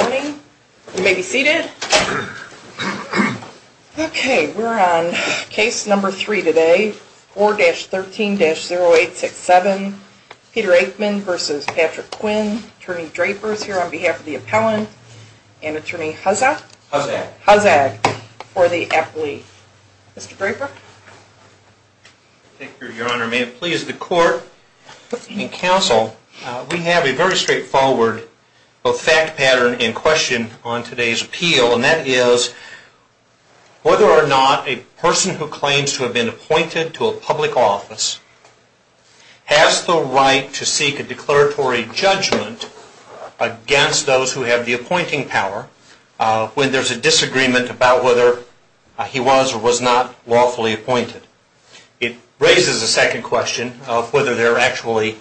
Morning, you may be seated. Okay, we're on case number three today, 4-13-0867, Peter Akemann v. Patrick Quinn. Attorney Draper is here on behalf of the appellant and Attorney Huzzah. Huzzah. Huzzah for the appellee. Mr. Draper. Thank you, Your Honor. May it please the court and counsel, we have a very straightforward fact pattern in question on today's appeal, and that is whether or not a person who claims to have been appointed to a public office has the right to seek a declaratory judgment against those who have the appointing power when there's a disagreement about whether he was or was not lawfully appointed. It raises a second question of whether there actually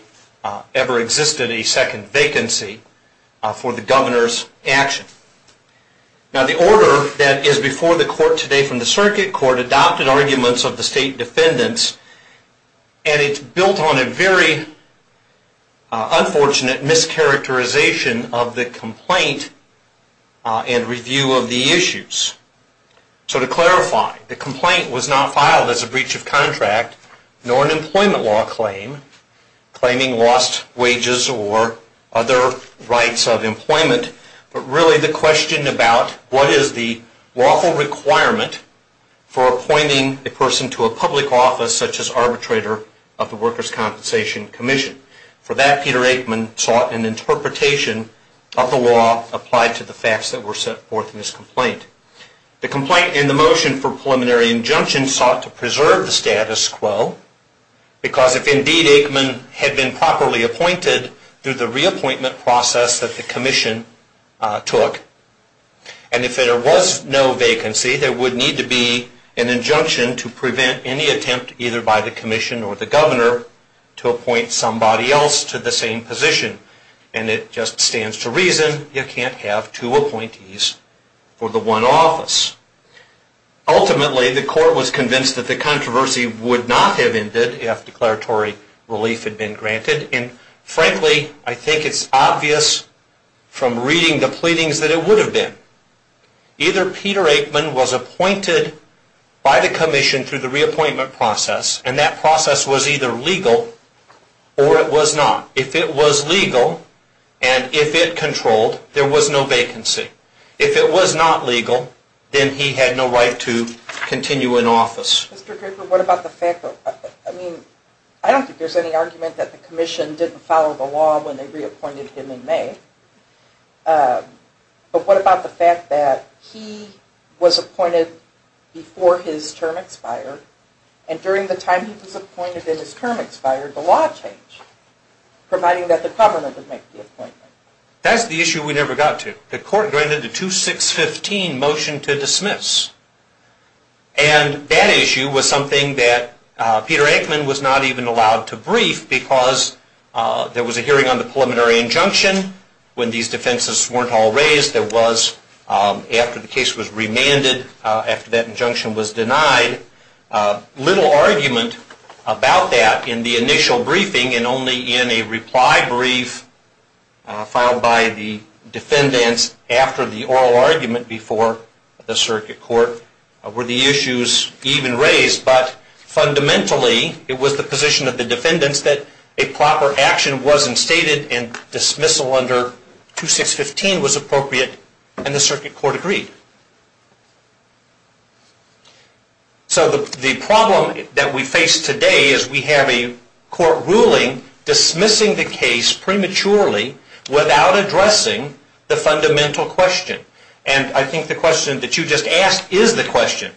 ever existed a second vacancy for the governor's action. Now, the order that is before the court today from the circuit court adopted arguments of the state defendants, and it's built on a very unfortunate mischaracterization of the complaint and review of the issues. So to clarify, the complaint was not filed as a breach of contract nor an employment law claim, claiming lost wages or other rights of employment, but really the question about what is the lawful requirement for appointing a person to a public office such as arbitrator of the Workers' Compensation Commission. For that, Peter Aikman sought an interpretation of the law applied to the facts that were set forth in his complaint. The complaint and the motion for preliminary injunction sought to preserve the status quo, because if indeed Aikman had been properly appointed through the reappointment process that the commission took, and if there was no vacancy, there would need to be an injunction to prevent any attempt either by the commission or the governor to appoint somebody else to the same position. And it just stands to reason you can't have two appointees for the one office. Ultimately, the court was convinced that the controversy would not have ended if declaratory relief had been granted, and frankly, I think it's obvious from reading the pleadings that it would have been. Either Peter Aikman was appointed by the commission through the reappointment process, and that process was either legal or it was not. If it was legal, and if it controlled, there was no vacancy. If it was not legal, then he had no right to continue in office. Mr. Draper, what about the fact that... I mean, I don't think there's any argument that the commission didn't follow the law when they reappointed him in May, but what about the fact that he was appointed before his term expired, and during the time he was appointed and his term expired, the law changed, providing that the governor would make the appointment. That's the issue we never got to. The court granted a 2-6-15 motion to dismiss, and that issue was something that Peter Aikman was not even allowed to brief because there was a hearing on the preliminary injunction. When these defenses weren't all raised, there was, after the case was remanded, after that injunction was denied, little argument about that in the initial briefing and only in a reply brief filed by the defendants after the oral argument before the circuit court were the issues even raised. But fundamentally, it was the position of the defendants that a proper action wasn't stated and dismissal under 2-6-15 was appropriate, and the circuit court agreed. So the problem that we face today is we have a court ruling dismissing the case prematurely without addressing the fundamental question. And I think the question that you just asked is the question.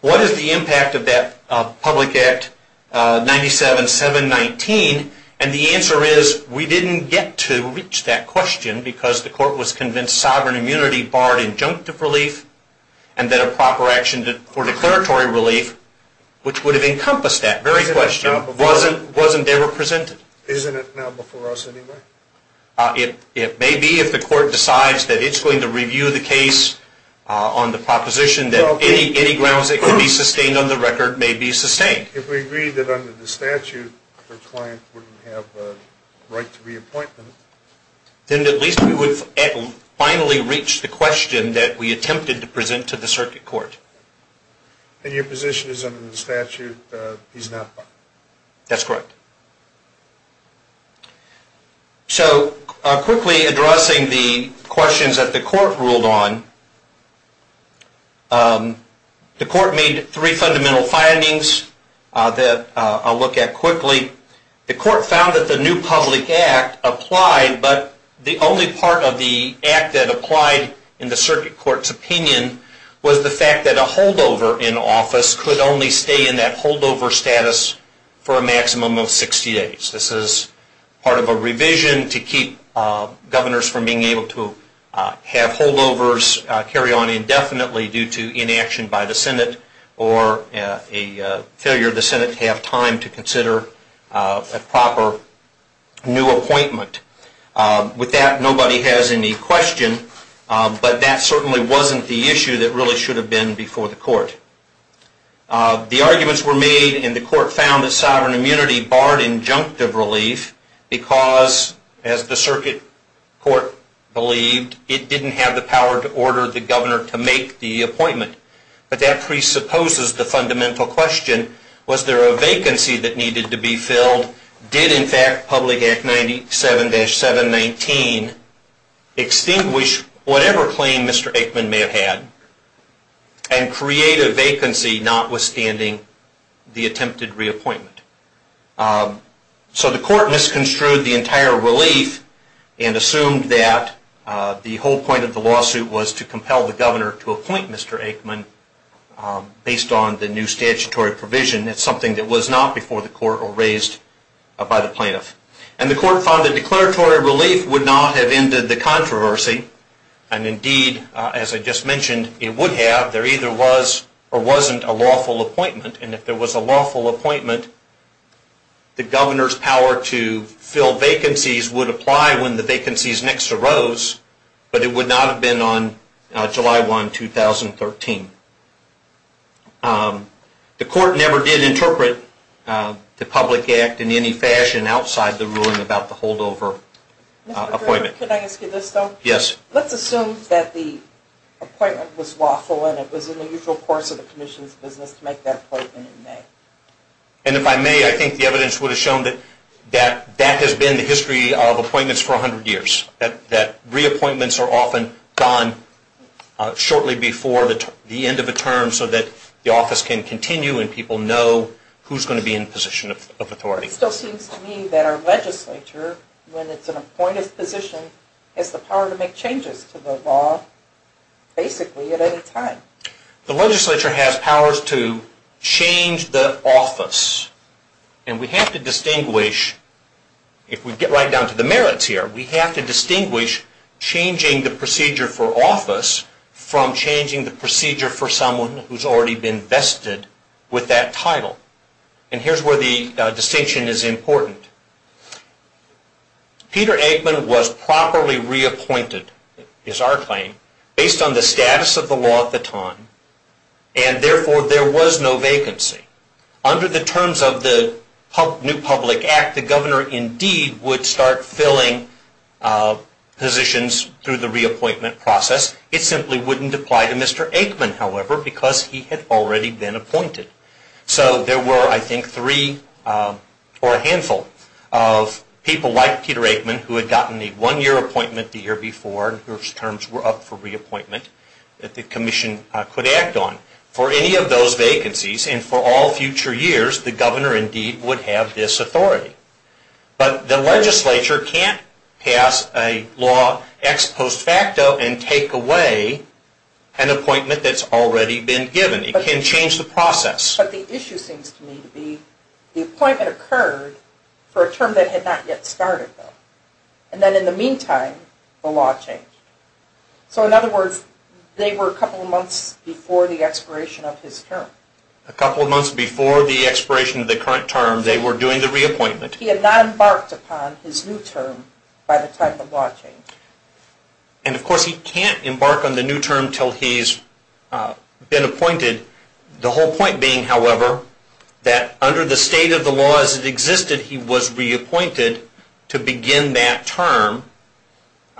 What is the impact of that Public Act 97-719? And the answer is we didn't get to reach that question because the court was convinced sovereign immunity barred injunctive relief and that a proper action for declaratory relief, which would have encompassed that very question, wasn't ever presented. Isn't it now before us anyway? It may be if the court decides that it's going to review the case on the proposition that any grounds that could be sustained on the record may be sustained. If we agreed that under the statute, the client wouldn't have the right to reappointment. Then at least we would finally reach the question that we attempted to present to the circuit court. If your position is under the statute, he's not. That's correct. So quickly addressing the questions that the court ruled on, the court made three fundamental findings that I'll look at quickly. The court found that the new public act applied, but the only part of the act that applied in the circuit court's opinion was the fact that a holdover in office could only stay in that holdover status for a maximum of 60 days. This is part of a revision to keep governors from being able to have holdovers carry on indefinitely due to inaction by the Senate or a failure of the Senate to have time to consider a proper new appointment. With that, nobody has any question, but that certainly wasn't the issue that really should have been before the court. The arguments were made and the court found that sovereign immunity barred injunctive relief because, as the circuit court believed, it didn't have the power to order the governor to make the appointment. But that presupposes the fundamental question, was there a vacancy that needed to be filled? Did, in fact, Public Act 97-719 extinguish whatever claim Mr. Aikman may have had and create a vacancy notwithstanding the attempted reappointment? So the court misconstrued the entire relief and assumed that the whole point of the lawsuit was to compel the governor to appoint Mr. Aikman based on the new statutory provision. That's something that was not before the court or raised by the plaintiff. And the court found that declaratory relief would not have ended the controversy, and indeed, as I just mentioned, it would have. There either was or wasn't a lawful appointment, and if there was a lawful appointment, the governor's power to fill vacancies would apply when the vacancies next arose, but it would not have been on July 1, 2013. The court never did interpret the Public Act in any fashion outside the ruling about the holdover appointment. Mr. Griffith, could I ask you this though? Yes. Let's assume that the appointment was lawful and it was in the usual course of the commission's business to make that appointment in May. And if I may, I think the evidence would have shown that that has been the history of appointments for 100 years, that reappointments are often done shortly before the end of a term so that the office can continue and people know who's going to be in a position of authority. It still seems to me that our legislature, when it's an appointed position, has the power to make changes to the law basically at any time. The legislature has powers to change the office, and we have to distinguish, if we get right down to the merits here, we have to distinguish changing the procedure for office from changing the procedure for someone who's already been vested with that title. And here's where the distinction is important. Peter Eggman was properly reappointed, is our claim, based on the status of the law at the time, and therefore there was no vacancy. Under the terms of the new Public Act, the governor indeed would start filling positions through the reappointment process. It simply wouldn't apply to Mr. Eggman, however, because he had already been appointed. So there were, I think, three or a handful of people like Peter Eggman who had gotten a one-year appointment the year before and whose terms were up for reappointment that the commission could act on. For any of those vacancies and for all future years, the governor indeed would have this authority. But the legislature can't pass a law ex post facto and take away an appointment that's already been given. It can change the process. But the issue seems to me to be the appointment occurred for a term that had not yet started, though. And then in the meantime, the law changed. So in other words, they were a couple of months before the expiration of his term. A couple of months before the expiration of the current term, they were doing the reappointment. He had not embarked upon his new term by the time the law changed. And, of course, he can't embark on the new term until he's been appointed. The whole point being, however, that under the state of the law as it existed, he was reappointed to begin that term.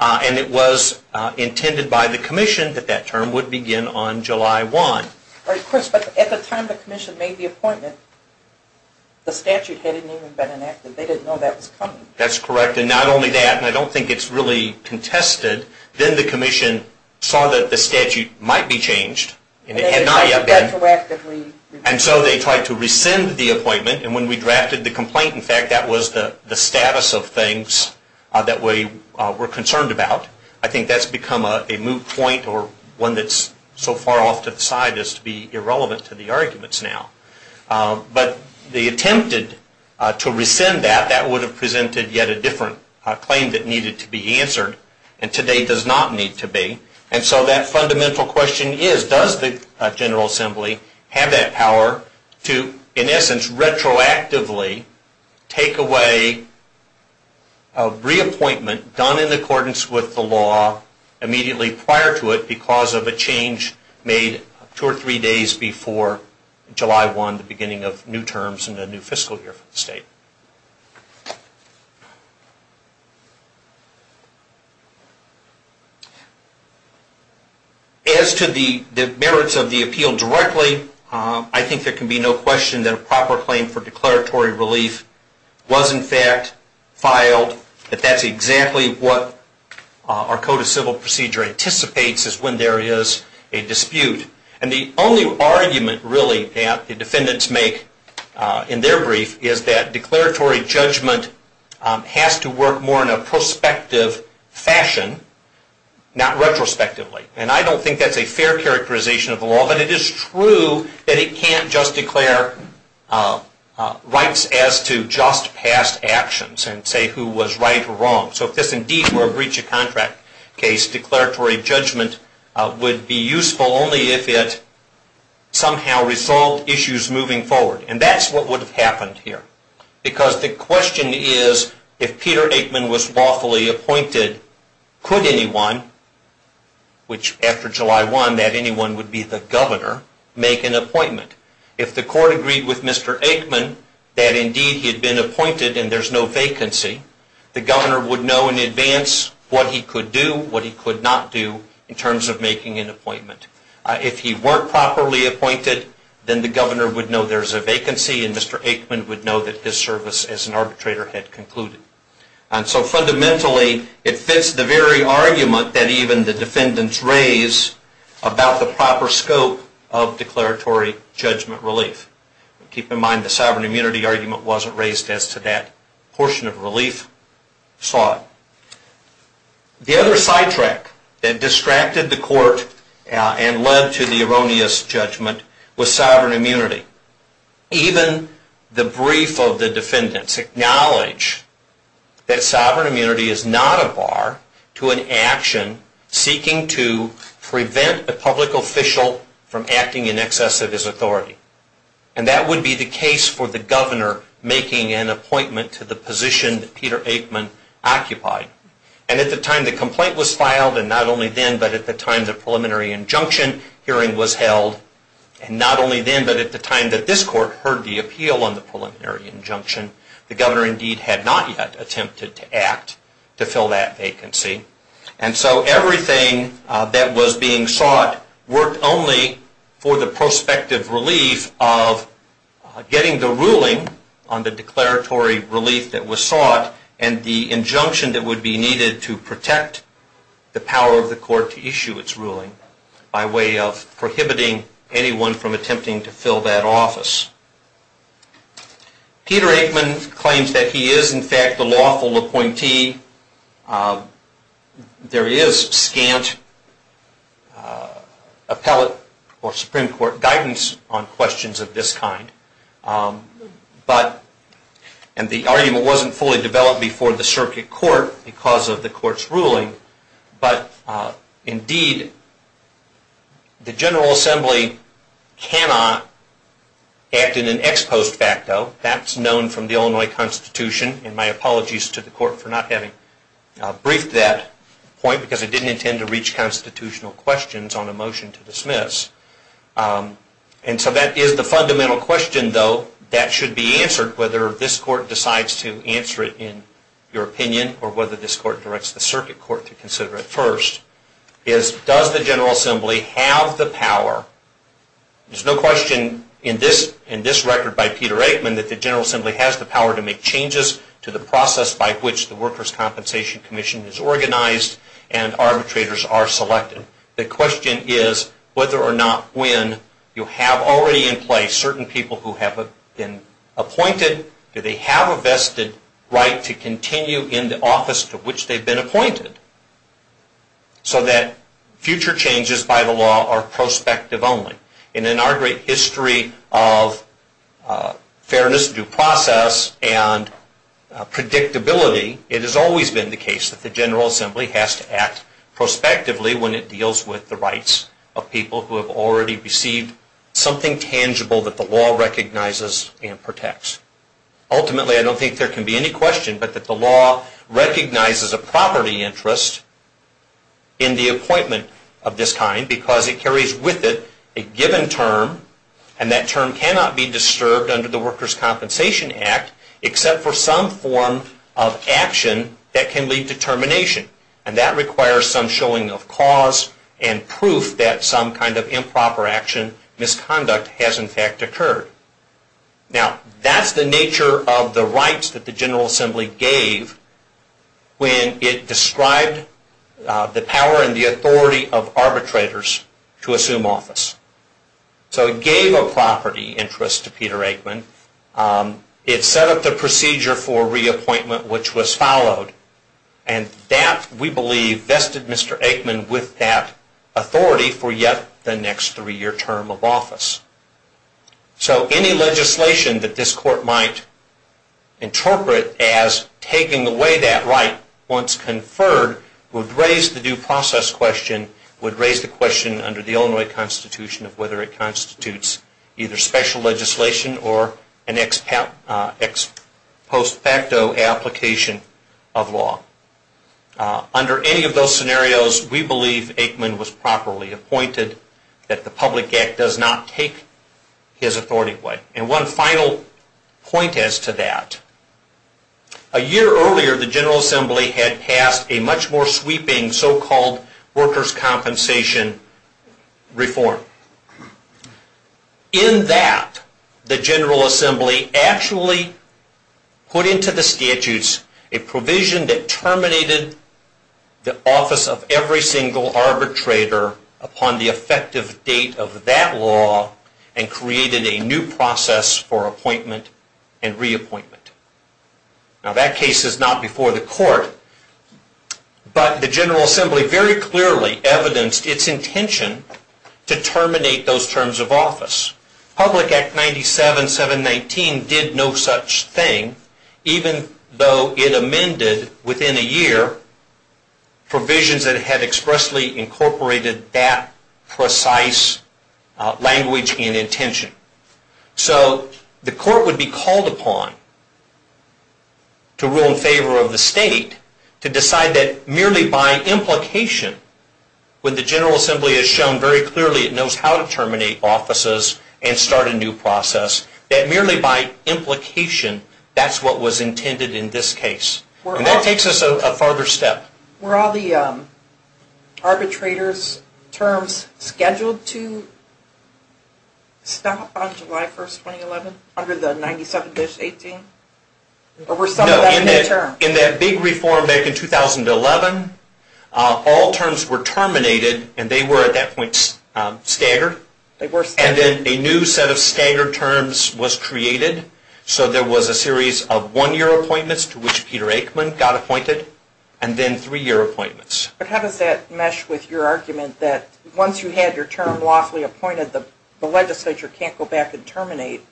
And it was intended by the commission that that term would begin on July 1. Of course, but at the time the commission made the appointment, the statute hadn't even been enacted. They didn't know that was coming. That's correct. And not only that, and I don't think it's really contested, then the commission saw that the statute might be changed. And it had not yet been. And so they tried to rescind the appointment. And when we drafted the complaint, in fact, that was the status of things that we were concerned about. I think that's become a moot point or one that's so far off to the side as to be irrelevant to the arguments now. But they attempted to rescind that. That would have presented yet a different claim that needed to be answered and today does not need to be. And so that fundamental question is, does the General Assembly have that power to, in essence, retroactively take away a reappointment done in accordance with the law immediately prior to it because of a change made two or three days before July 1, the beginning of new terms and a new fiscal year for the state? As to the merits of the appeal directly, I think there can be no question that a proper claim for declaratory relief was, in fact, filed. But that's exactly what our Code of Civil Procedure anticipates is when there is a dispute. And the only argument, really, that the defendants make in their brief is that declaratory judgment has to work more in a prospective fashion, not retrospectively. And I don't think that's a fair characterization of the law. But it is true that it can't just declare rights as to just past actions and say who was right or wrong. So if this indeed were a breach of contract case, declaratory judgment would be useful only if it somehow resolved issues moving forward. And that's what would have happened here because the question is, if Peter Aikman was lawfully appointed, could anyone, which after July 1, that anyone would be the governor, make an appointment? If the court agreed with Mr. Aikman that indeed he had been appointed and there's no vacancy, the governor would know in advance what he could do, what he could not do in terms of making an appointment. If he weren't properly appointed, then the governor would know there's a vacancy and Mr. Aikman would know that his service as an arbitrator had concluded. And so fundamentally, it fits the very argument that even the defendants raise about the proper scope of declaratory judgment relief. Keep in mind the sovereign immunity argument wasn't raised as to that portion of relief. Saw it. The other sidetrack that distracted the court and led to the erroneous judgment was sovereign immunity. Even the brief of the defendants acknowledge that sovereign immunity is not a bar to an action seeking to prevent a public official from acting in excess of his authority. And that would be the case for the governor making an appointment to the position that Peter Aikman occupied. And at the time the complaint was filed, and not only then but at the time the preliminary injunction hearing was held, and not only then but at the time that this court heard the appeal on the preliminary injunction, the governor indeed had not yet attempted to act to fill that vacancy. And so everything that was being sought worked only for the prospective relief of getting the ruling on the declaratory relief that was sought and the injunction that would be needed to protect the power of the court to issue its ruling by way of prohibiting anyone from attempting to fill that office. Peter Aikman claims that he is in fact a lawful appointee. There is scant appellate or Supreme Court guidance on questions of this kind. And the argument wasn't fully developed before the circuit court because of the act in an ex post facto. That's known from the Illinois Constitution, and my apologies to the court for not having briefed that point because I didn't intend to reach constitutional questions on a motion to dismiss. And so that is the fundamental question, though, that should be answered, whether this court decides to answer it in your opinion or whether this court directs the circuit court to consider it first, is does the General Assembly have the power? There's no question in this record by Peter Aikman that the General Assembly has the power to make changes to the process by which the Workers' Compensation Commission is organized and arbitrators are selected. The question is whether or not when you have already in place certain people who have been appointed, do they have a vested right to continue in the office to which they've been appointed so that future changes by the law are prospective only. And in our great history of fairness, due process, and predictability, it has always been the case that the General Assembly has to act prospectively when it deals with the rights of people who have already received something tangible that the law recognizes and protects. Ultimately, I don't think there can be any question but that the law recognizes a property interest in the appointment of this kind because it carries with it a given term and that term cannot be disturbed under the Workers' Compensation Act except for some form of action that can lead to termination. And that requires some showing of cause and proof that some kind of improper action, misconduct, has in fact occurred. Now, that's the nature of the rights that the General Assembly gave when it described the power and the authority of arbitrators to assume office. So it gave a property interest to Peter Aikman. It set up the procedure for reappointment which was followed and that, we believe, vested Mr. Aikman with that authority for yet the next three-year term of office. So any legislation that this Court might interpret as taking away that right once conferred would raise the due process question, would raise the question under the Illinois Constitution of whether it constitutes either special legislation or an ex post facto application of law. Under any of those scenarios, we believe Aikman was properly appointed, that the public act does not take his authority away. And one final point as to that, a year earlier the General Assembly had passed a much more sweeping so-called workers' compensation reform. In that, the General Assembly actually put into the statutes a provision that of that law and created a new process for appointment and reappointment. Now, that case is not before the Court, but the General Assembly very clearly evidenced its intention to terminate those terms of office. Public Act 97-719 did no such thing even though it amended within a year provisions that had expressly incorporated that precise language and intention. So the Court would be called upon to rule in favor of the state to decide that merely by implication, when the General Assembly has shown very clearly it knows how to terminate offices and start a new process, that merely by implication that's what was intended in this case. And that takes us a farther step. Were all the arbitrators' terms scheduled to stop on July 1st, 2011, under the 97-18? No, in that big reform back in 2011, all terms were terminated and they were at that point staggered. And then a new set of staggered terms was created. So there was a series of one-year appointments to which Peter Aikman got appointed, and then three-year appointments. But how does that mesh with your argument that once you had your term lawfully appointed, the legislature can't go back and terminate?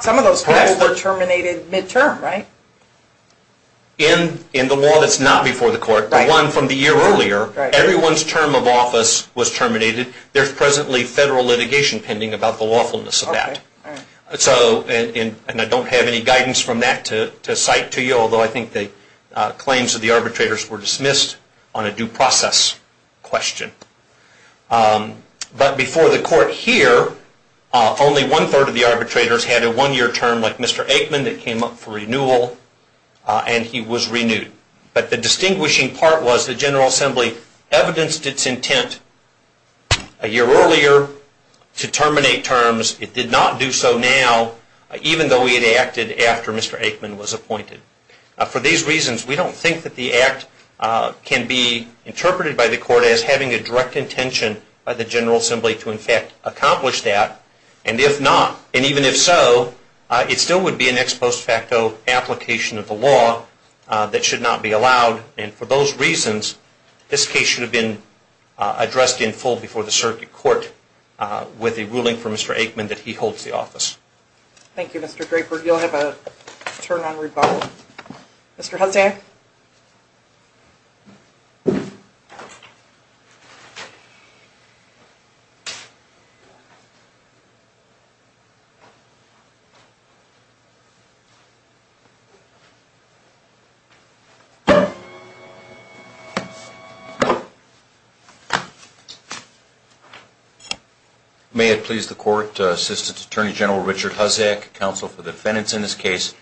Some of those terms were terminated midterm, right? In the law that's not before the Court, the one from the year earlier, everyone's term of office was terminated. There's presently federal litigation pending about the lawfulness of that. And I don't have any guidance from that to cite to you, although I think the claims of the arbitrators were dismissed on a due process question. But before the Court here, only one-third of the arbitrators had a one-year term like Mr. Aikman that came up for renewal, and he was renewed. But the distinguishing part was the General Assembly evidenced its intent a year earlier to terminate terms. It did not do so now, even though we had acted after Mr. Aikman was appointed. For these reasons, we don't think that the Act can be interpreted by the Court as having a direct intention by the General Assembly to, in fact, accomplish that. And if not, and even if so, it still would be an ex post facto application of the law that should not be allowed. And for those reasons, this case should have been addressed in full before the Aikman that he holds the office. Thank you, Mr. Draper. You'll have a turn on rebuttal. Mr. Hudson. Okay. May it please the Court, Assistant Attorney General Richard Huzdak, counsel for the defendants in this case,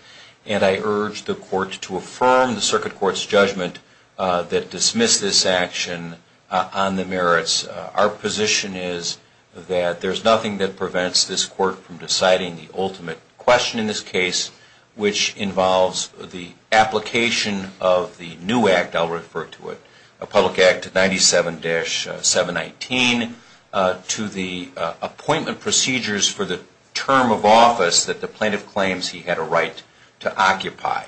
and I urge the Court to affirm the Circuit Court's judgment that dismiss this action on the merits. Our position is that there's nothing that prevents this Court from deciding the ultimate question in this case, which involves the application of the new Act, I'll refer to it, Public Act 97-719, to the appointment procedures for the term of office that the plaintiff claims he had a right to occupy.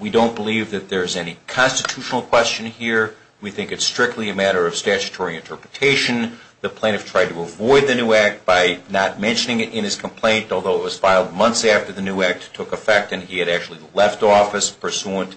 We don't believe that there's any constitutional question here. We think it's strictly a matter of statutory interpretation. The plaintiff tried to avoid the new Act by not mentioning it in his complaint, although it was filed months after the new Act took effect and he had actually left office pursuant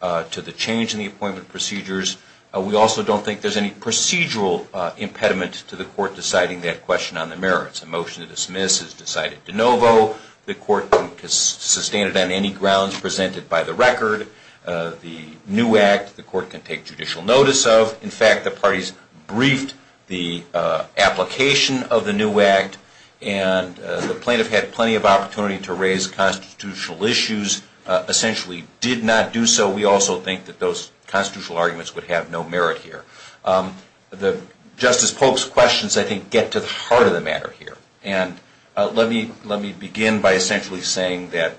to the change in the appointment procedures. We also don't think there's any procedural impediment to the Court deciding that question on the merits. A motion to dismiss is decided de novo. The Court can sustain it on any grounds presented by the record. The new Act, the Court can take judicial notice of. In fact, the parties briefed the application of the new Act, and the plaintiff had plenty of opportunity to raise constitutional issues, essentially did not do so. We also think that those constitutional arguments would have no merit here. Justice Polk's questions, I think, get to the heart of the matter here, and let me begin by essentially saying that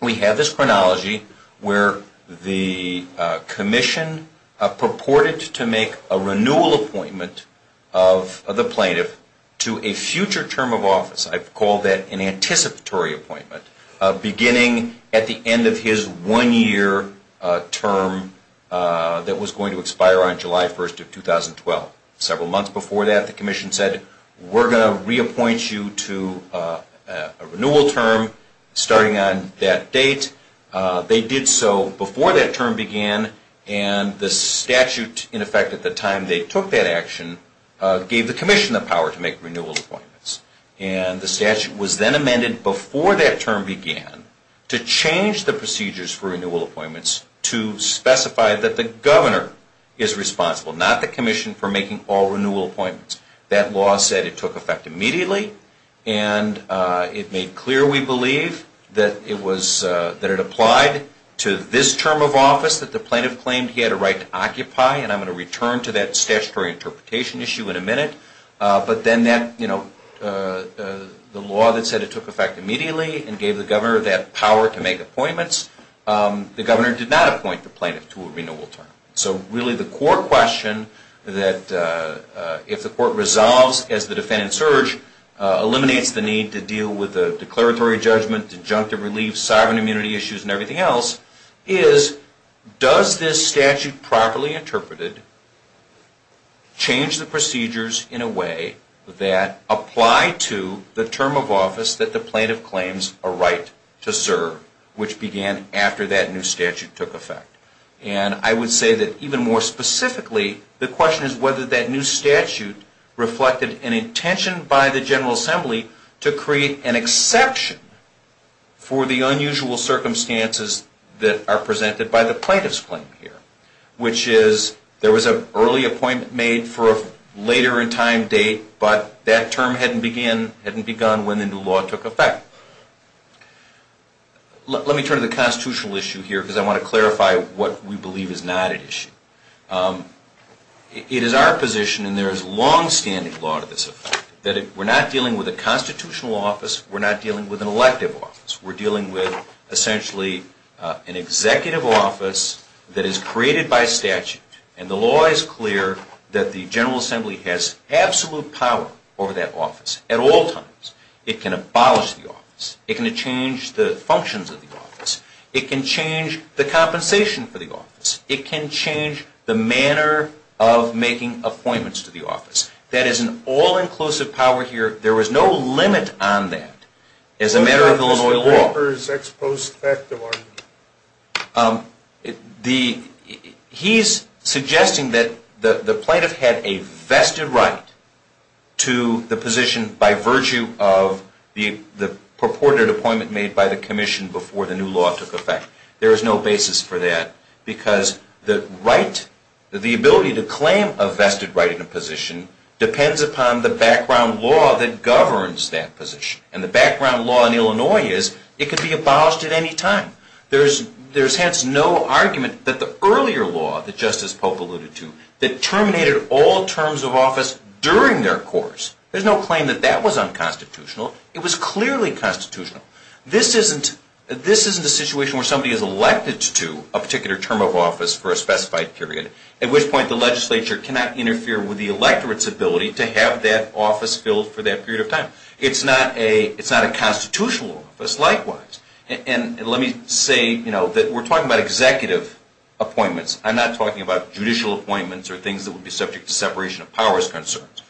we have this chronology where the Commission purported to make a renewal appointment of the plaintiff to a future term of office. I call that an anticipatory appointment, beginning at the end of his one-year term that was going to expire on July 1st of 2012. Several months before that, the Commission said, we're going to reappoint you to a renewal term starting on that date. They did so before that term began, and the statute, in effect, at the time they took that action, gave the Commission the power to make renewal appointments. And the statute was then amended before that term began to change the procedures for renewal appointments to specify that the Governor is responsible, not the Commission, for making all renewal appointments. That law said it took effect immediately, and it made clear, we believe, that it applied to this term of office that the plaintiff claimed he had a right to occupy, and I'm going to return to that statutory interpretation issue in a minute. But then the law that said it took effect immediately and gave the Governor that power to make appointments, the Governor did not appoint the plaintiff to a renewal term. So really the core question that, if the Court resolves as the defendant surged, eliminates the need to deal with the declaratory judgment, injunctive relief, sovereign immunity issues, and everything else, is, does this statute properly interpreted change the procedures in a way that apply to the term of office that the plaintiff claims a right to serve, which began after that new statute took effect? And I would say that, even more specifically, the question is whether that new statute reflected an intention by the General Assembly to create an exception for the unusual circumstances that are presented by the plaintiff's claim here, which is, there was an early appointment made for a later in time date, but that term hadn't begun when the new law took effect. Let me turn to the constitutional issue here because I want to clarify what we believe is not at issue. It is our position, and there is longstanding law to this effect, that we're not dealing with a constitutional office, we're not dealing with an elective office. We're dealing with, essentially, an executive office that is created by statute, and the law is clear that the General Assembly has absolute power over that office at all times. It can abolish the office. It can change the functions of the office. It can change the compensation for the office. It can change the manner of making appointments to the office. That is an all-inclusive power here. There was no limit on that as a matter of Illinois law. What about Mr. Walker's ex post facto argument? He's suggesting that the plaintiff had a vested right to the position by virtue of the purported appointment made by the commission before the new law took effect. There is no basis for that because the right, the ability to claim a vested right in a position, depends upon the background law that governs that position. And the background law in Illinois is it could be abolished at any time. There's hence no argument that the earlier law that Justice Pope alluded to that terminated all terms of office during their course, there's no claim that that was unconstitutional. It was clearly constitutional. This isn't a situation where somebody is elected to a particular term of office for a specified period, at which point the legislature cannot interfere with the electorate's ability to have that office filled for that period of time. It's not a constitutional office likewise. And let me say that we're talking about executive appointments. I'm not talking about judicial appointments or things that would be subject to separation of powers concerns.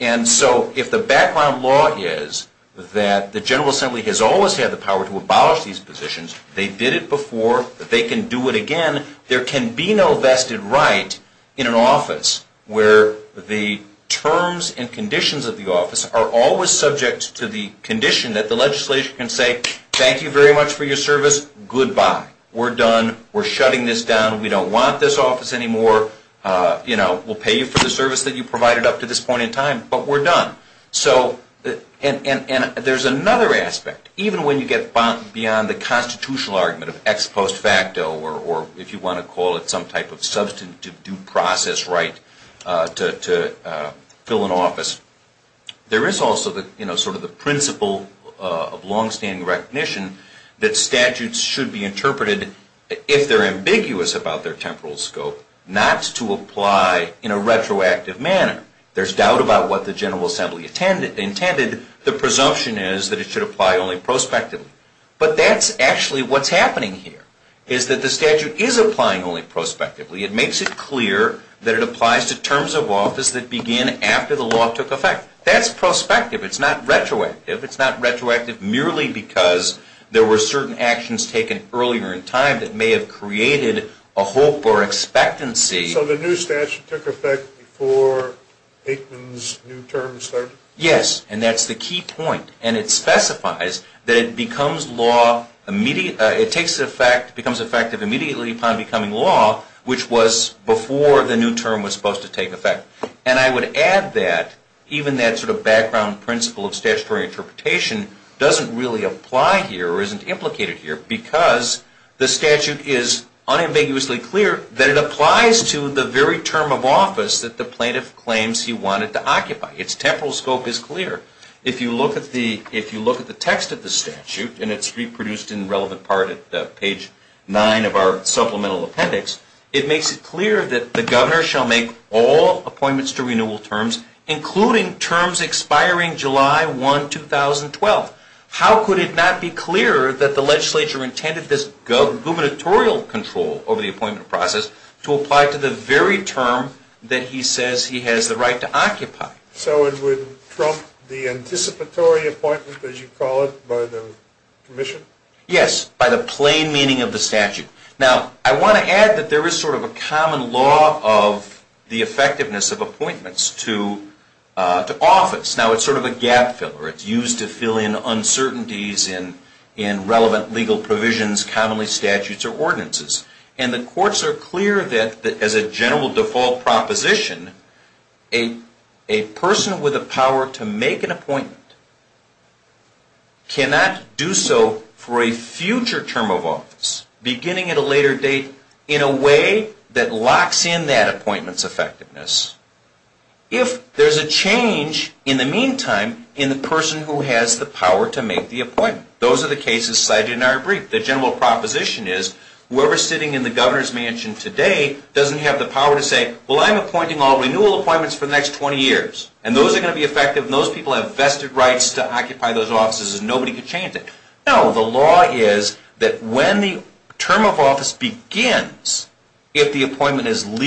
And so if the background law is that the General Assembly has always had the power to abolish these positions, they did it before, they can do it again, there can be no vested right in an office where the terms and conditions of the office are always subject to the condition that the legislature can say, thank you very much for your service, goodbye. We're done. We're shutting this down. We don't want this office anymore. We'll pay you for the service that you provided up to this point in time, but we're done. And there's another aspect. Even when you get beyond the constitutional argument of ex post facto, or if you want to call it some type of substantive due process right to fill an office, there is also sort of the principle of longstanding recognition that statutes should be interpreted if they're ambiguous about their temporal scope, not to apply in a retroactive manner. There's doubt about what the General Assembly intended. The presumption is that it should apply only prospectively. But that's actually what's happening here, is that the statute is applying only prospectively. It makes it clear that it applies to terms of office that begin after the law took effect. That's prospective. It's not retroactive. It's not retroactive merely because there were certain actions taken earlier in time that may have created a hope or expectancy. So the new statute took effect before Aikman's new term started? Yes. And that's the key point. And it specifies that it becomes effective immediately upon becoming law, which was before the new term was supposed to take effect. doesn't really apply here or isn't implicated here because the statute is unambiguously clear that it applies to the very term of office that the plaintiff claims he wanted to occupy. Its temporal scope is clear. If you look at the text of the statute, and it's reproduced in relevant part at page 9 of our supplemental appendix, it makes it clear that the governor shall make all appointments to renewal terms, including terms expiring July 1, 2012. How could it not be clear that the legislature intended this gubernatorial control over the appointment process to apply to the very term that he says he has the right to occupy? So it would trump the anticipatory appointment, as you call it, by the commission? Yes, by the plain meaning of the statute. Now, I want to add that there is sort of a common law of the effectiveness of appointments to office. Now, it's sort of a gap filler. It's used to fill in uncertainties in relevant legal provisions, commonly statutes or ordinances. And the courts are clear that as a general default proposition, a person with the power to make an appointment cannot do so for a future term of office, beginning at a later date, in a way that locks in that appointment's effectiveness. If there's a change, in the meantime, in the person who has the power to make the appointment. Those are the cases cited in our brief. The general proposition is whoever is sitting in the governor's mansion today doesn't have the power to say, well, I'm appointing all renewal appointments for the next 20 years. And those are going to be effective, and those people have vested rights to occupy those offices, and nobody can change it. No, the law is that when the term of office begins, if the appointment is made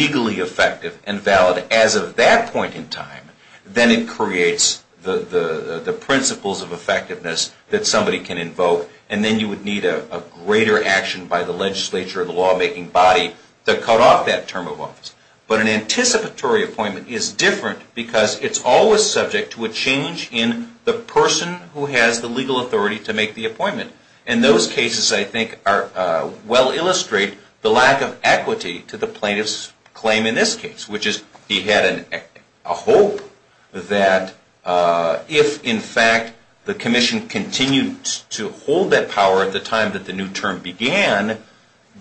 as of that point in time, then it creates the principles of effectiveness that somebody can invoke, and then you would need a greater action by the legislature or the lawmaking body to cut off that term of office. But an anticipatory appointment is different because it's always subject to a change in the person who has the legal authority to make the appointment. And those cases, I think, well illustrate the lack of equity to the legislature. We had a hope that if, in fact, the commission continued to hold that power at the time that the new term began,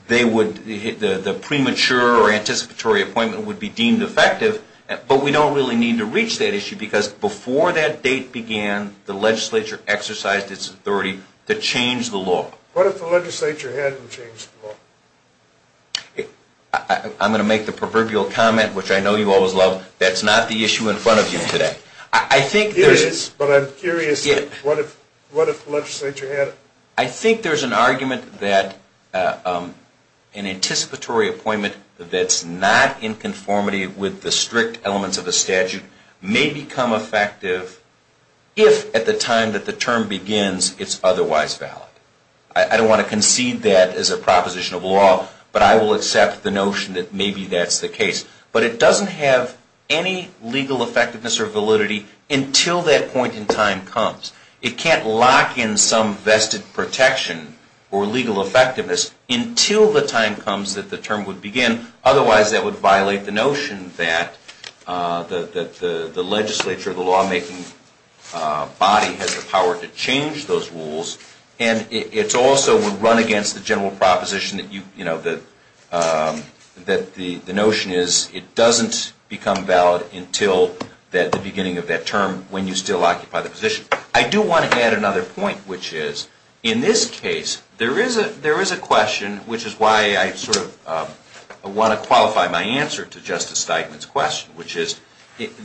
the premature or anticipatory appointment would be deemed effective. But we don't really need to reach that issue because before that date began, the legislature exercised its authority to change the law. What if the legislature hadn't changed the law? I'm going to make the proverbial comment, which I know you always love, that's not the issue in front of you today. Here it is, but I'm curious, what if the legislature had? I think there's an argument that an anticipatory appointment that's not in conformity with the strict elements of the statute may become effective if at the time that the term begins it's otherwise valid. I don't want to concede that as a proposition of law, but I will accept the notion that maybe that's the case. But it doesn't have any legal effectiveness or validity until that point in time comes. It can't lock in some vested protection or legal effectiveness until the time comes that the term would begin. Otherwise, that would violate the notion that the legislature, the lawmaking body has the power to change those rules. And it's also would run against the general proposition that the notion is it doesn't become valid until the beginning of that term when you still occupy the position. I do want to add another point, which is in this case there is a question, which is why I sort of want to qualify my answer to Justice Steigman's question, which is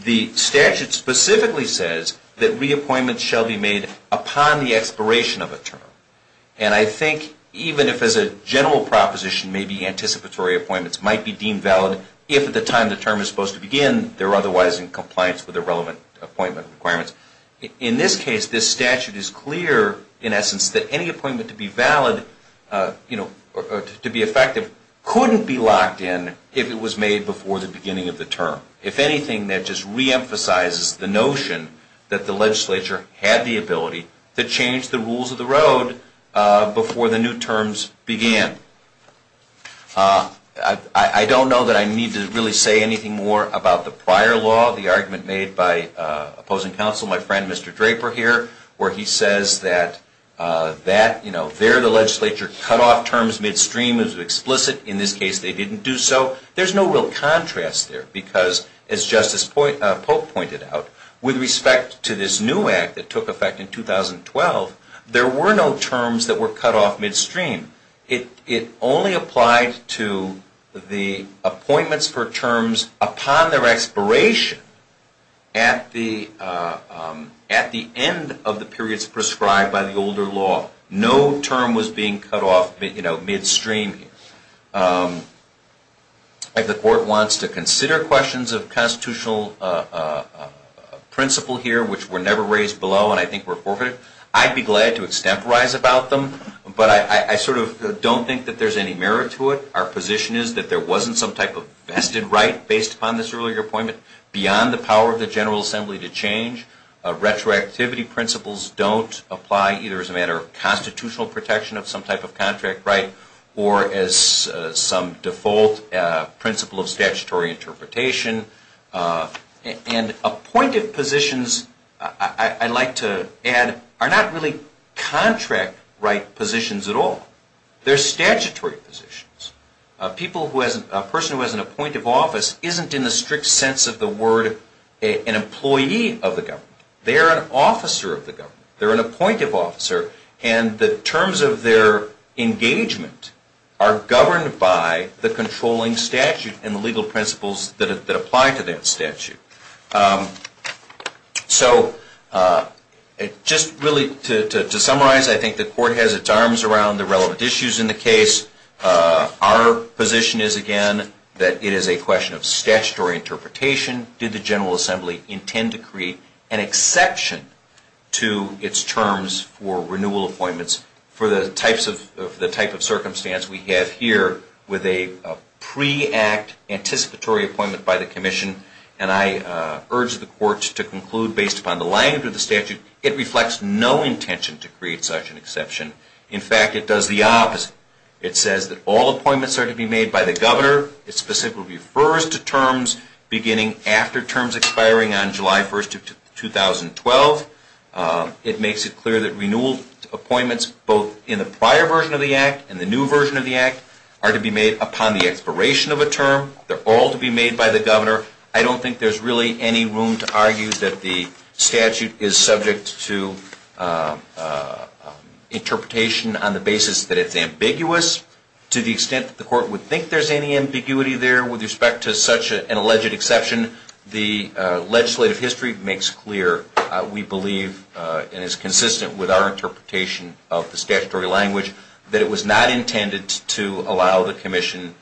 the statute specifically says that reappointment shall be made upon the expiration of a term. And I think even if as a general proposition maybe anticipatory appointments might be deemed valid if at the time the term is supposed to begin they're otherwise in compliance with the relevant appointment requirements. In this case, this statute is clear in essence that any appointment to be valid, you know, to be effective couldn't be locked in if it was made before the beginning of the term. If anything, that just reemphasizes the notion that the legislature had the ability to change the rules of the road before the new terms began. I don't know that I need to really say anything more about the prior law, the argument made by opposing counsel, my friend Mr. Draper here, where he says that, you know, there the legislature cut off terms midstream as explicit. In this case, they didn't do so. There's no real contrast there because as Justice Pope pointed out, with respect to this new act that took effect in 2012, there were no terms that were cut off midstream. It only applied to the appointments for terms upon their expiration at the end of the periods prescribed by the older law. No term was being cut off, you know, midstream. If the court wants to consider questions of constitutional principle here, which were never raised below and I think were forfeited, I'd be glad to extemporize about them, but I sort of don't think that there's any merit to it. Our position is that there wasn't some type of vested right based upon this earlier appointment beyond the power of the General Assembly to change. Retroactivity principles don't apply either as a matter of constitutional protection of some type of contract right or as some default principle of statutory interpretation. And appointed positions, I'd like to add, are not really contract right positions at all. They're statutory positions. A person who has an appointed office isn't in the strict sense of the word an officer of the government. They're an appointive officer and the terms of their engagement are governed by the controlling statute and the legal principles that apply to that statute. So just really to summarize, I think the court has its arms around the relevant issues in the case. Our position is, again, that it is a question of statutory interpretation. In addition, did the General Assembly intend to create an exception to its terms for renewal appointments for the type of circumstance we have here with a pre-act anticipatory appointment by the commission? And I urge the court to conclude, based upon the language of the statute, it reflects no intention to create such an exception. In fact, it does the opposite. It says that all appointments are to be made by the governor. It specifically refers to terms beginning after terms expiring on July 1st of 2012. It makes it clear that renewal appointments, both in the prior version of the Act and the new version of the Act, are to be made upon the expiration of a term. They're all to be made by the governor. I don't think there's really any room to argue that the statute is subject to interpretation on the basis that it's ambiguous. To the extent that the court would think there's any ambiguity there with respect to such an alleged exception, the legislative history makes clear, we believe, and is consistent with our interpretation of the statutory language, that it was not intended to allow the commission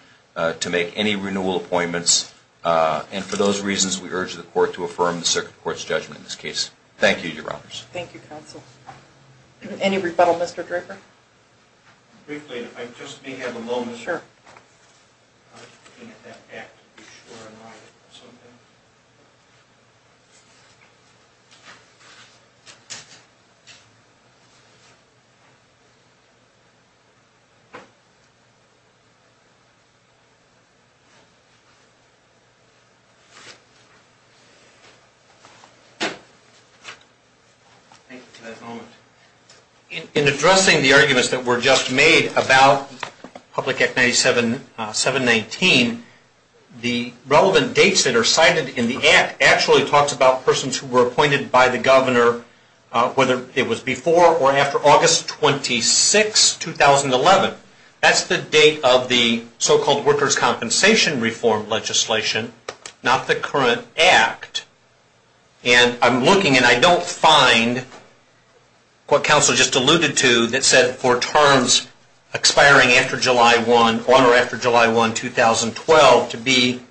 to make any renewal appointments. And for those reasons, we urge the court to affirm the Circuit Court's judgment in this case. Thank you, Your Honors. Thank you, Counsel. Any rebuttal, Mr. Draper? Briefly, if I just may have a moment. Sure. Thank you for that moment. In addressing the arguments that were just made about Public Act 719, the relevant dates that are cited in the Act actually talks about persons who were appointed by the governor, whether it was before or after August 26, 2011. That's the date of the so-called workers' compensation reform legislation, not the current Act. And I'm looking, and I don't find what Counsel just alluded to that said for terms expiring after July 1, or after July 1, 2012, to be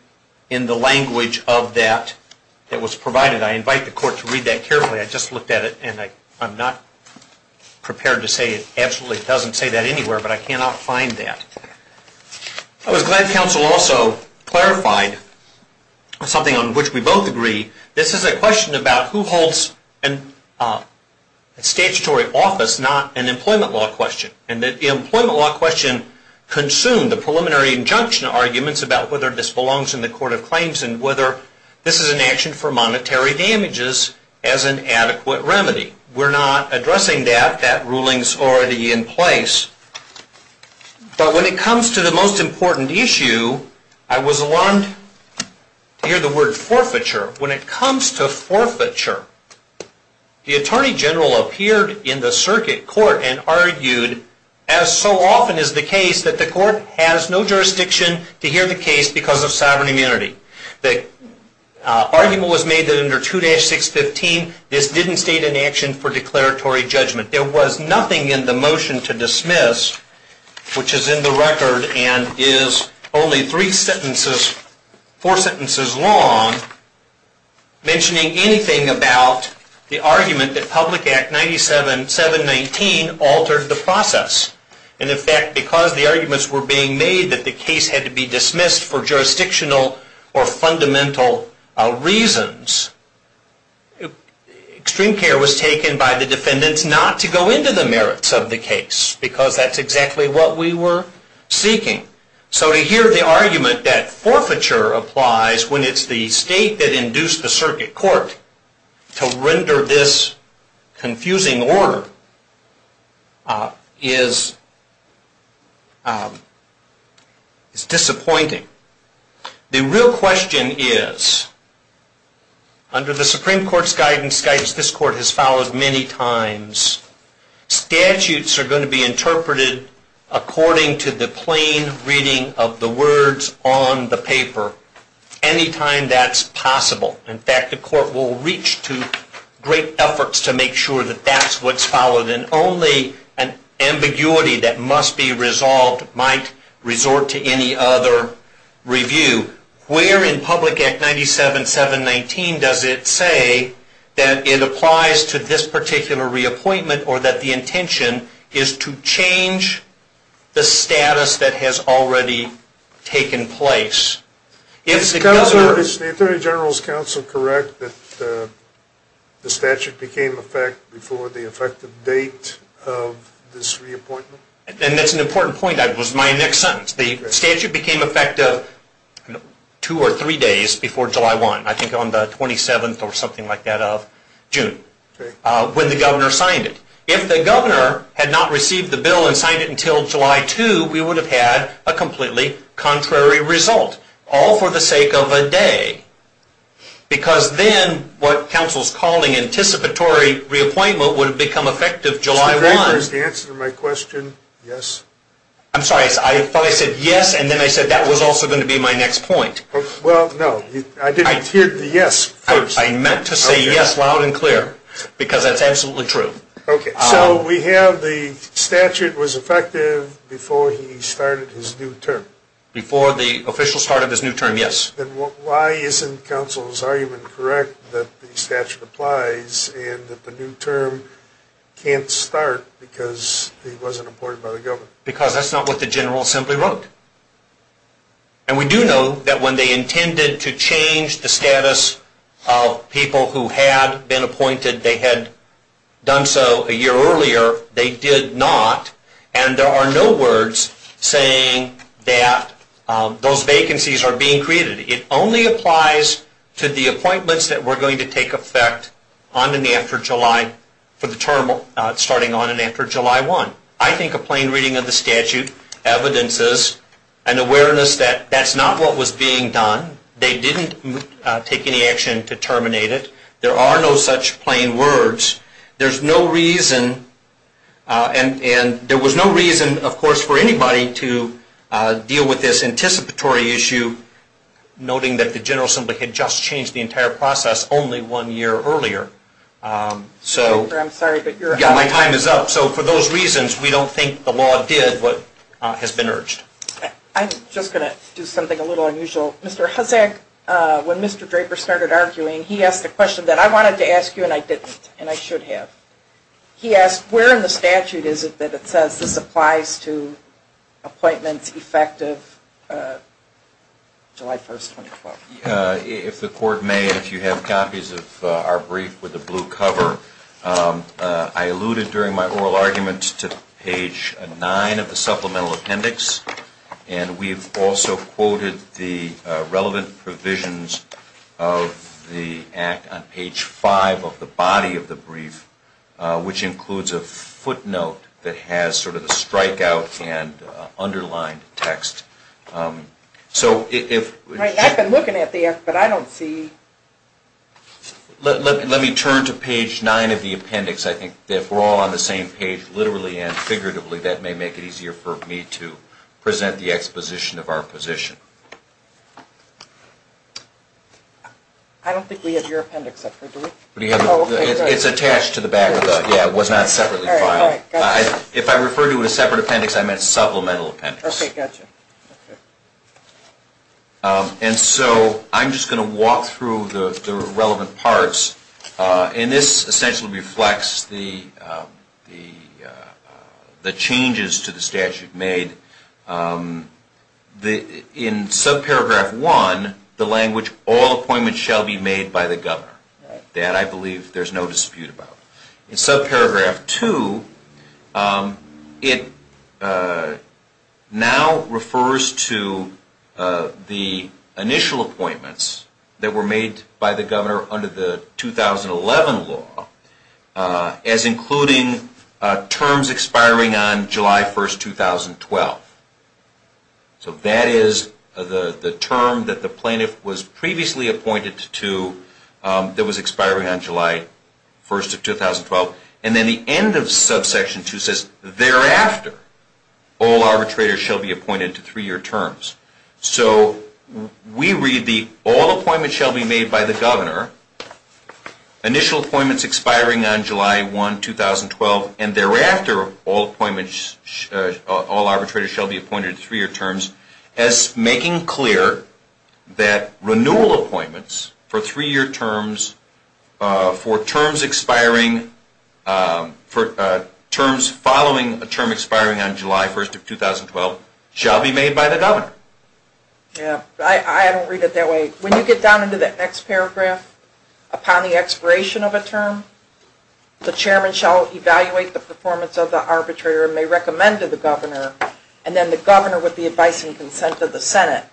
in the language of that that was provided. I invite the court to read that carefully. I just looked at it, and I'm not prepared to say it absolutely doesn't say that anywhere, but I cannot find that. I was glad Counsel also clarified something on which we both agree. This is a question about who holds a statutory office, not an employment law question, and that the employment law question consumed the preliminary injunction arguments about whether this belongs in the Court of Claims and whether this is an action for monetary damages as an adequate remedy. We're not addressing that. That ruling's already in place. But when it comes to the most important issue, I was alarmed to hear the word forfeiture. When it comes to forfeiture, the Attorney General appeared in the circuit court and argued, as so often is the case, that the court has no jurisdiction to hear the case because of sovereign immunity. The argument was made that under 2-615, this didn't state an action for declaratory judgment. There was nothing in the motion to dismiss, which is in the record and is only four sentences long, mentioning anything about the argument that Public Act 97-719 altered the process. And, in fact, because the arguments were being made that the case had to be dismissed for jurisdictional or fundamental reasons, extreme care was taken by the defendants not to go into the merits of the case because that's exactly what we were seeking. So to hear the argument that forfeiture applies when it's the state that induced the circuit court to render this confusing order is disappointing. The real question is, under the Supreme Court's guidance, this Court has followed many times, statutes are going to be interpreted according to the plain reading of the words on the paper anytime that's possible. In fact, the Court will reach to great efforts to make sure that that's what's followed, and only an ambiguity that must be resolved might resort to any other review. Where in Public Act 97-719 does it say that it applies to this particular reappointment or that the intention is to change the status that has already taken place? Is the Attorney General's counsel correct that the statute became effect before the effective date of this reappointment? And that's an important point. That was my next sentence. The statute became effective two or three days before July 1, I think on the 27th or something like that of June, when the governor signed it. If the governor had not received the bill and signed it until July 2, we would have had a completely contrary result, all for the sake of a day. Because then what counsel's calling anticipatory reappointment would have become effective July 1. Mr. Draper, is the answer to my question yes? I'm sorry. I thought I said yes, and then I said that was also going to be my next point. Well, no. I didn't hear the yes first. I meant to say yes loud and clear, because that's absolutely true. Okay. So we have the statute was effective before he started his new term. Before the official start of his new term, yes. Then why isn't counsel's argument correct that the statute applies and that the new term can't start because it wasn't appointed by the governor? Because that's not what the general assembly wrote. And we do know that when they intended to change the status of people who had been appointed, they had done so a year earlier. They did not. And there are no words saying that those vacancies are being created. It only applies to the appointments that were going to take effect on and after July for the term starting on and after July 1. I think a plain reading of the statute, evidences, and awareness that that's not what was being done. They didn't take any action to terminate it. There are no such plain words. There's no reason, and there was no reason, of course, for anybody to deal with this anticipatory issue, noting that the general assembly had just changed the entire process only one year earlier. So my time is up. So for those reasons, we don't think the law did what has been urged. I'm just going to do something a little unusual. Mr. Hussack, when Mr. Draper started arguing, he asked a question that I wanted to ask you and I didn't, and I should have. He asked, where in the statute is it that it says this applies to appointments effective July 1, 2012? If the Court may, if you have copies of our brief with the blue cover, I alluded during my oral argument to page 9 of the supplemental appendix, and we've also quoted the relevant provisions of the Act on page 5 of the body of the brief, which includes a footnote that has sort of the strikeout and underlined text. Right, I've been looking at the Act, but I don't see... Let me turn to page 9 of the appendix. I think if we're all on the same page, literally and figuratively, that may make it easier for me to present the exposition of our position. I don't think we have your appendix up here, do we? It's attached to the back of the, yeah, it was not separately filed. If I refer to it as separate appendix, I meant supplemental appendix. Okay, gotcha. And so I'm just going to walk through the relevant parts, and this essentially reflects the changes to the statute made. In subparagraph 1, the language, all appointments shall be made by the governor. That I believe there's no dispute about. In subparagraph 2, it now refers to the initial appointments that were made by the governor under the 2011 law as including terms expiring on July 1, 2012. So that is the term that the plaintiff was previously appointed to that was July 1, 2012. And then the end of subsection 2 says, thereafter, all arbitrators shall be appointed to three-year terms. So we read the all appointments shall be made by the governor, initial appointments expiring on July 1, 2012, and thereafter, all arbitrators shall be appointed to three-year terms as making clear that renewal appointments for three-year terms, for terms expiring, for terms following a term expiring on July 1, 2012, shall be made by the governor. Yeah, I don't read it that way. When you get down into that next paragraph, upon the expiration of a term, the chairman shall evaluate the performance of the arbitrator and may recommend to the governor, and then the governor, with the advice and consent of the Senate,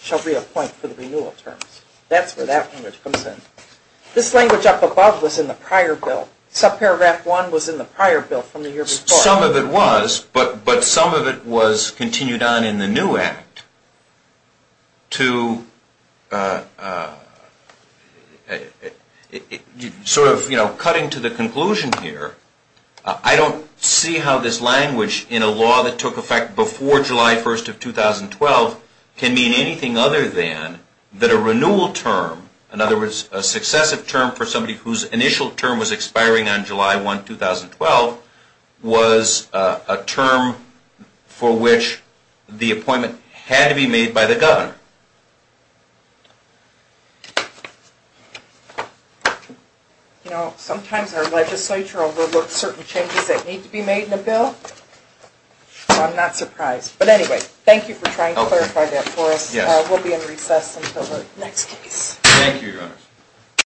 shall reappoint for the renewal terms. That's where that language comes in. This language up above was in the prior bill. Subparagraph 1 was in the prior bill from the year before. Some of it was, but some of it was continued on in the new act. Sort of cutting to the conclusion here, I don't see how this language in a law that took effect before July 1, 2012, can mean anything other than that a renewal term, in other words, a successive term for somebody whose initial term was expiring on July 1, 2012, was a term for which the appointment had to be made by the governor. You know, sometimes our legislature overlooks certain changes that need to be made in a bill, so I'm not surprised. But anyway, thank you for trying to clarify that for us. We'll be in recess until the next case. Thank you, Your Honors.